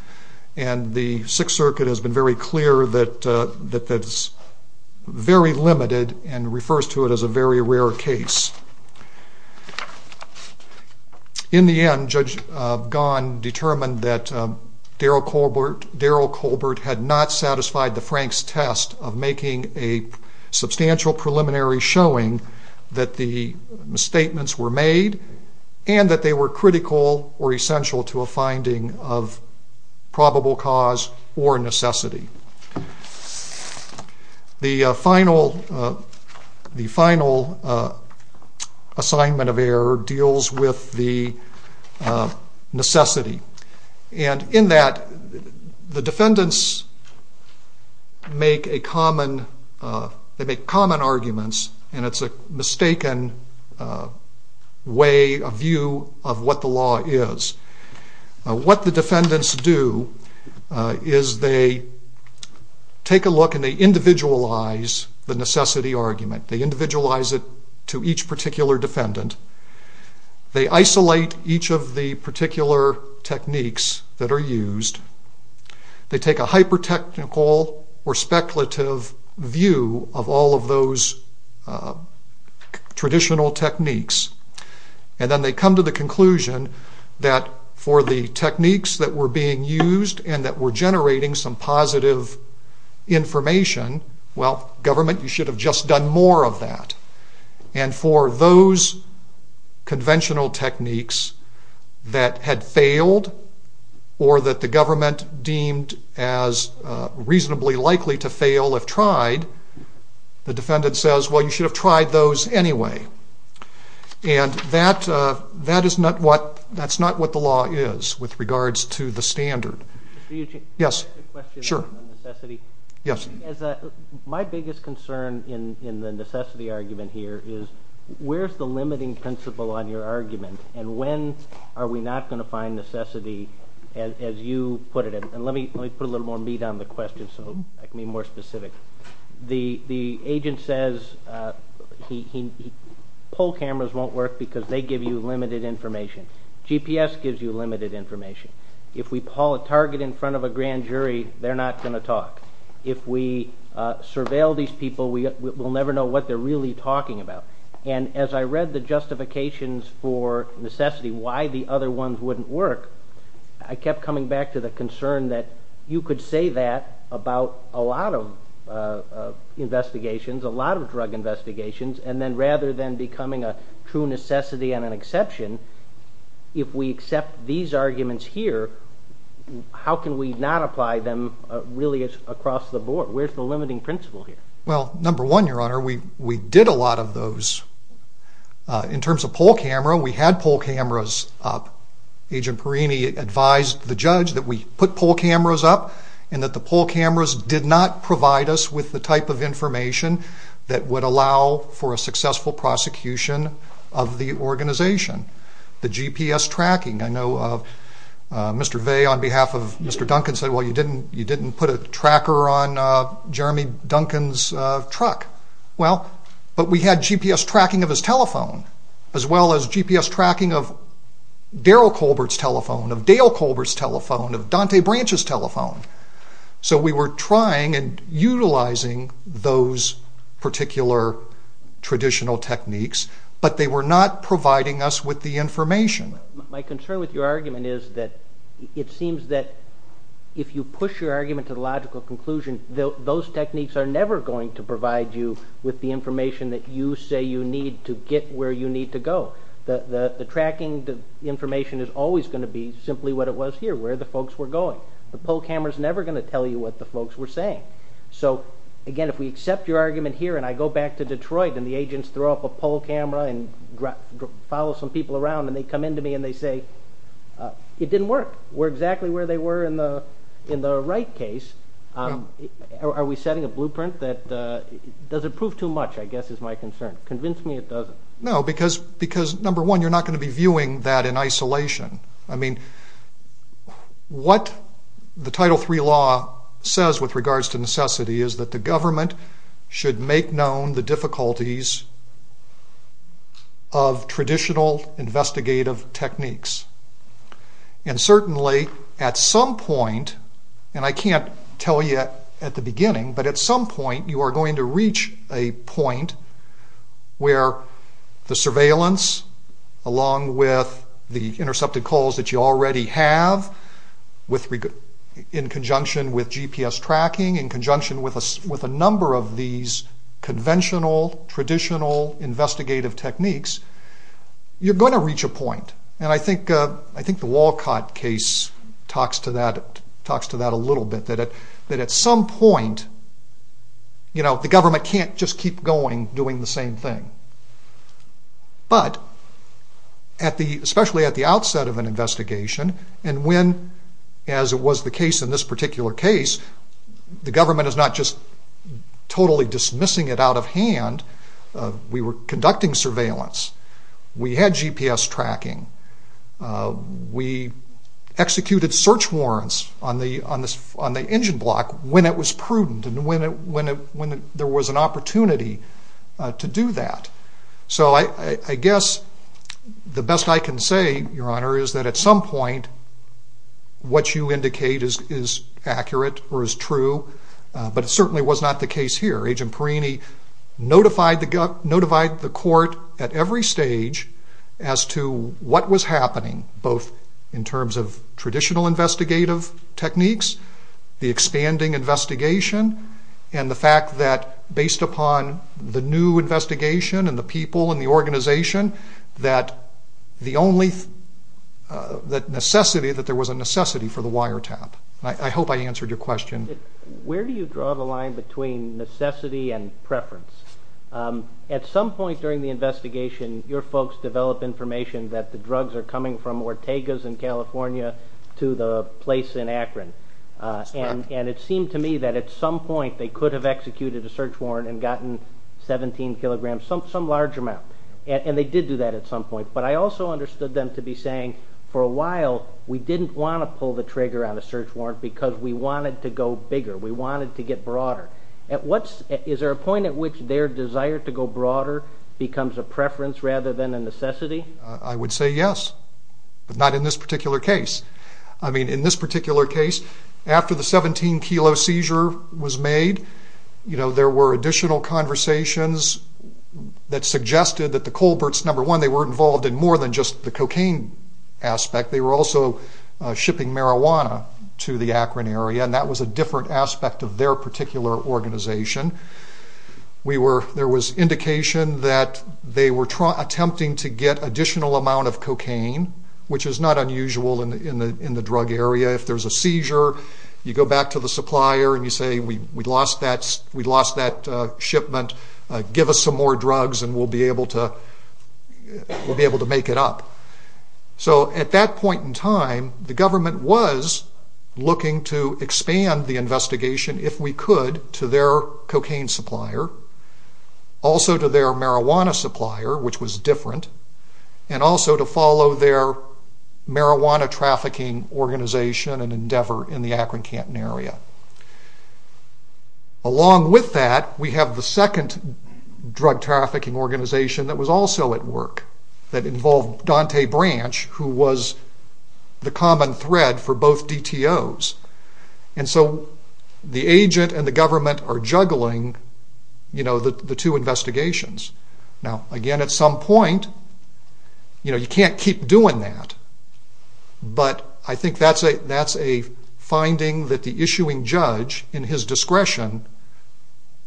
The Sixth Circuit has been very clear that that is very limited and refers to it as a very rare case. In the end, Judge Gaughan determined that Daryl Colbert had not satisfied the Frank's test of making a substantial preliminary showing that the statements were made and that they were critical or essential to a finding of probable cause or necessity. The final assignment of error deals with the necessity. In that, the defendants make common arguments and it is a mistaken view of what the law is. What the defendants do is they take a look and they individualize the necessity argument. They individualize it to each particular defendant. They isolate each of the particular techniques that are used. They take a hyper use of those traditional techniques and then they come to the conclusion that for the techniques that were being used and that were generating some positive information, well, government you should have just done more of that. And for those conventional techniques that had failed or that the government deemed as reasonably likely to fail if tried, the defendants have said, well, you should have tried those anyway. And that is not what the law is with regards to the standard. My biggest concern in the necessity argument here is where is the limiting principle on your argument and when are we not going to find necessity as you put it. Let me put a couple of examples. Pole cameras won't work because they give you limited information. GPS gives you limited information. If we pull a target in front of a grand jury, they're not going to talk. If we surveil these people, we'll never know what they're really talking about. And as I read the justifications for necessity, why the other ones wouldn't work, I kept coming back to the concern that you could say that about a lot of investigations, a lot of drug investigations, and then rather than becoming a true necessity and an exception, if we accept these arguments here, how can we not apply them really across the board? Where's the limiting principle here? Well, number one, Your Honor, we did a lot of those. In terms of pole camera, we had pole cameras up. Agent Perini advised the judge that we put pole cameras up and that pole cameras did not provide us with the type of information that would allow for a successful prosecution of the organization. The GPS tracking, I know Mr. Vey on behalf of Mr. Duncan said, well, you didn't put a tracker on Jeremy Duncan's truck. Well, but we had GPS tracking of his telephone as well as GPS tracking of Daryl Colbert's telephone, of Dale Colbert's telephone, of Dante Branch's telephone. So we were trying and utilizing those particular traditional techniques, but they were not providing us with the information. My concern with your argument is that it seems that if you push your argument to the logical conclusion, those techniques are never going to provide you with the information that you say you need to get where you need to go. The tracking, the information is always going to be simply what it was here, where the folks were going. The pole camera is never going to tell you what the folks were saying. So again, if we accept your argument here and I go back to Detroit and the agents throw up a pole camera and follow some people around and they come in to me and they say, it didn't work. We're exactly where they were in the right case. Are we setting a blueprint that doesn't prove too much, I guess is my concern. Convince me it doesn't. No, because number one, you're not going to be viewing that in isolation. I mean, what the Title III law says with regards to necessity is that the government should make known the difficulties of traditional investigative techniques. And certainly at some point, and I can't tell you at the beginning, but at some point you are going to reach a point where the surveillance along with the use of force, the use of force intercepted calls that you already have in conjunction with GPS tracking, in conjunction with a number of these conventional, traditional investigative techniques, you're going to reach a point. And I think the Walcott case talks to that a little bit, that at some point the government can't just keep going doing the same thing. But, especially at the outset of an investigation, and when, as was the case in this particular case, the government is not just totally dismissing it out of hand, we were conducting surveillance, we had GPS tracking, we executed search warrants on the engine block when it was prudent, when it was, when there was an opportunity to do that. So I guess the best I can say, Your Honor, is that at some point what you indicate is accurate or is true, but it certainly was not the case here. Agent Perini notified the court at every stage as to what was happening, both in terms of traditional investigative techniques, the expanding investigation, and the fact that based upon the new investigation and the people and the organization, that the necessity, that there was a necessity for the wiretap. I hope I answered your question. Where do you draw the line between necessity and preference? At some point during the investigation your folks develop information that the drugs are coming from Ortega's in California to the place in Akron. And it seemed to me that at some point they could have executed a search warrant and gotten 17 kilograms, some large amount. And they did do that at some point. But I also understood them to be saying, for a while we didn't want to pull the trigger on a search warrant because we wanted to go bigger, we wanted to get broader. Is there a point at which their desire to go broader becomes a preference rather than a necessity? I would say yes, but not in this particular case. I mean, in this particular case, after the 17 kilo seizure was made, you know, there were additional conversations that suggested that the Colberts, number one, they weren't involved in more than just the cocaine aspect, they were also shipping marijuana to the Akron area, and that was a different aspect of their particular organization. We were, there was indication that they were attempting to get additional amount of cocaine, which is not unusual in the drug area. If there's a seizure, you go back to the supplier and you say, we lost that shipment, give us some more drugs and we'll be able to make it up. So at that point in time, the government was looking to expand the investigation, if we could, to their cocaine supplier, also to their marijuana supplier, which was different, and also to follow their marijuana trafficking organization and endeavor in the Akron-Canton area. Along with that, we have the second drug trafficking organization that was also at work, that involved Dante Branch, who was the common thread for both DTOs. And so the agent and the government are juggling, you know, the two investigations. Now, again, at some point, you know, you can't keep doing that, but I think that's a finding that the issuing judge, in his discretion,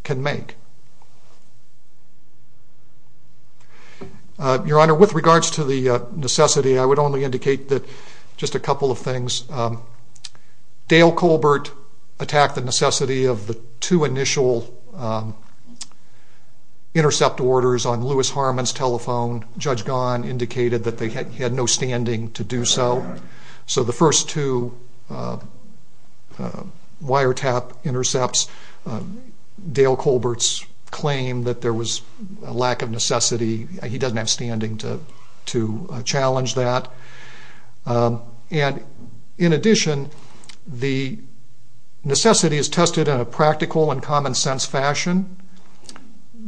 can make. Your Honor, with regards to the necessity, I would only indicate that, just a couple of things. Dale Colbert attacked the necessity of the two initial intercept orders on Louis Harmon's telephone. Judge Gahn indicated that they had no standing to do so. So the first two wiretap intercepts, Dale Colbert's claim that there was a lack of necessity, he doesn't have standing to challenge that. And in addition, the necessity is tested in a practical and common sense fashion.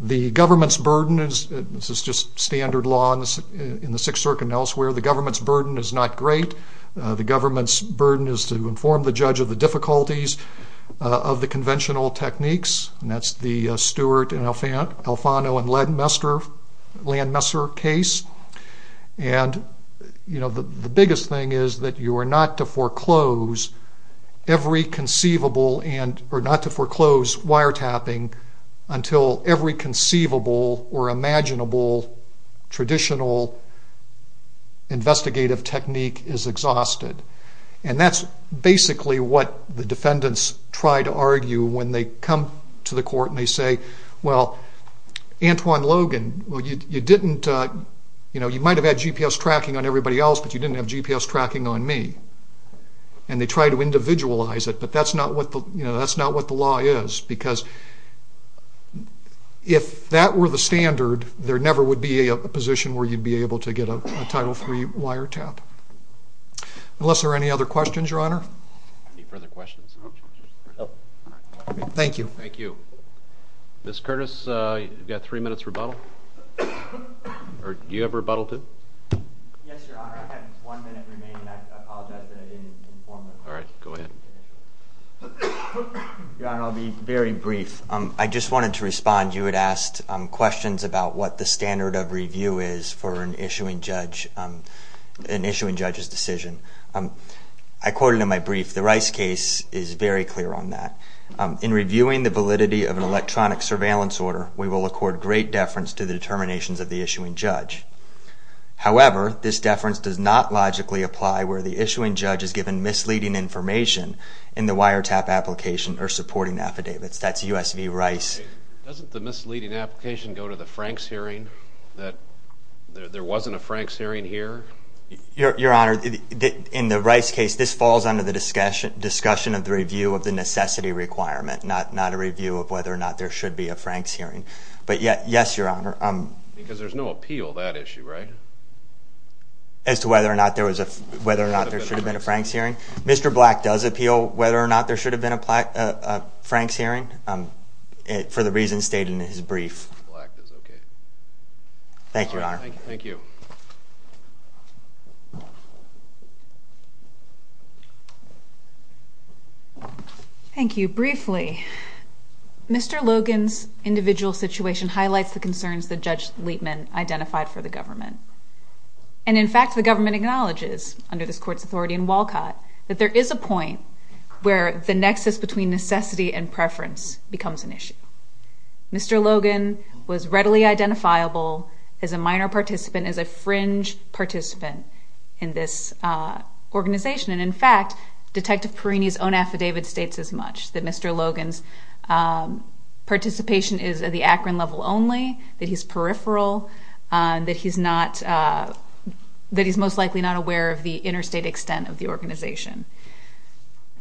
The government's burden is, this is just standard law in the Sixth Circuit, the government's burden is to inform the judge of the difficulties of the conventional techniques, and that's the Stewart and Alfano and Landmesser case. And, you know, the biggest thing is that you are not to foreclose every conceivable, or not to foreclose wiretapping until every conceivable or imaginable traditional investigative technique is exhausted. And that's basically what the defendants try to argue when they come to the court and they say, well, Antoine Logan, you might have had GPS tracking on everybody else, but you didn't have GPS tracking on me. And they try to individualize it, but that's not what the law is, because if that were the standard, there never would be a position where you'd be able to get a Title III wiretap. Unless there are any other questions, Your Honor? Thank you. Ms. Curtis, you've got three minutes rebuttal? Or do you have rebuttal, too? Yes, Your Honor. I have one minute remaining, and I apologize that I didn't inform the question. All right, go ahead. Your Honor, I'll be very brief. I just wanted to respond. You had asked questions about what the standard of review is for an issuing judge's decision. I quoted in my brief, the Rice case is very clear on that. In reviewing the validity of an electronic surveillance order, we will accord great deference to the determinations of the issuing judge. However, this deference does not logically apply where the issuing judge is given misleading information in the wiretap application or supporting affidavits. That's U.S. v. Rice. Doesn't the misleading application go to the Franks hearing, that there wasn't a Franks hearing here? Your Honor, in the Rice case, this falls under the discussion of the review of the necessity requirement, not a review of whether or not there should be a Franks hearing. But yes, Your Honor. Because there's no appeal, that issue, right? As to whether or not there should have been a Franks hearing? Mr. Black does appeal whether or not there should have been a Franks hearing, for the reasons stated in his brief. Thank you, Your Honor. Thank you. Briefly, Mr. Logan's individual situation highlights the concerns that Judge Liepman identified for the government. And in fact, the government acknowledges, under this Court's authority in Walcott, that there is a point where the nexus between necessity and preference becomes an issue. Mr. Logan was readily identifiable as a minor participant, as a fringe participant in this organization. And in fact, Detective Perini's own affidavit states as much, that Mr. Logan's participation is at the Akron level only, that he's peripheral, that he's not, that he's most likely not aware of the interstate extent of the organization.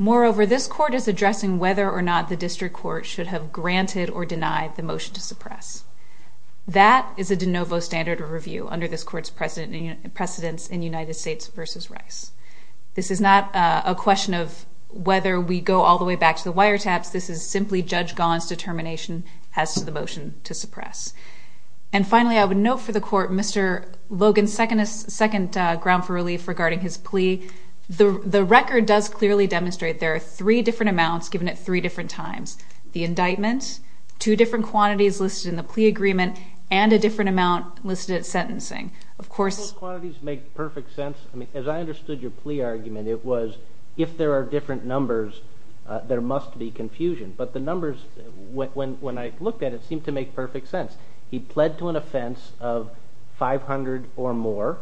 Moreover, this Court is addressing whether or not the District Court should have granted or denied the motion to suppress. That is a de novo standard of review under this Court's precedence in United States v. Rice. This is not a question of whether we go all the way back to the wiretaps, this is simply Judge Gahan's determination as to the motion to suppress. And finally, I would note for the Court, Mr. Logan's second ground for relief regarding his plea, the record does clearly demonstrate there are three different amounts given at three different times. The indictment, two different quantities listed in the plea agreement, and a different amount listed at sentencing. Of course... Those quantities make perfect sense. I mean, as I understood your plea argument, it was if there are different numbers, there must be confusion. But the numbers, when I looked at it, seemed to make perfect sense. He pled to an offense of 500 or more,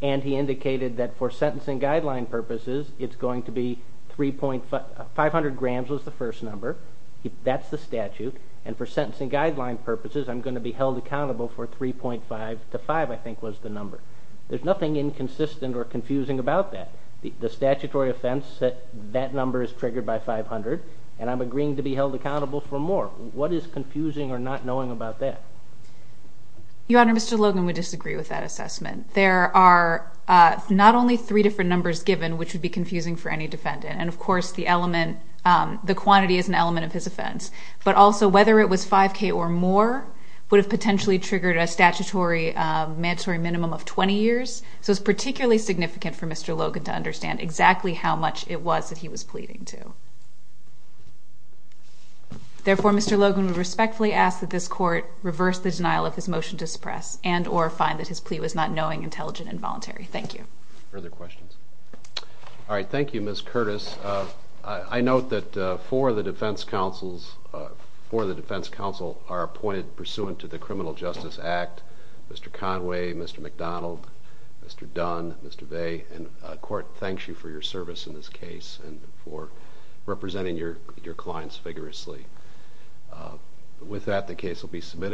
and he indicated that for sentencing guideline purposes, it's going to be 500 grams was the first number, that's the statute, and for sentencing guideline purposes, I'm going to be held accountable for 3.5 to 5, I think was the number. There's nothing inconsistent or confusing about that. The statutory offense, that number is triggered by 500, and I'm agreeing to be held accountable for more. What is confusing or not knowing about that? Your Honor, Mr. Logan would disagree with that assessment. There are not only three different numbers given, which would be confusing for any defendant, and of course, the element, the quantity is an element of his offense. But also, whether it was 5K or more would have potentially triggered a statutory, mandatory minimum of 20 years, so it's particularly significant for Mr. Logan to understand exactly how much it was that he was pleading to. Therefore, Mr. Logan would respectfully ask that this Court reverse the denial of his motion to suppress, and or find that his plea was not knowing, intelligent, and voluntary. Thank you. Further questions? All right, thank you, Ms. Curtis. I note that four of the defense counsels, four of the defense counsel are appointed pursuant to the Criminal Justice Act, Mr. Conway, Mr. McDonald, Mr. Dunn, Mr. Vey, and the Court thanks you for your service in this case and for representing your clients vigorously. With that, the case will be submitted.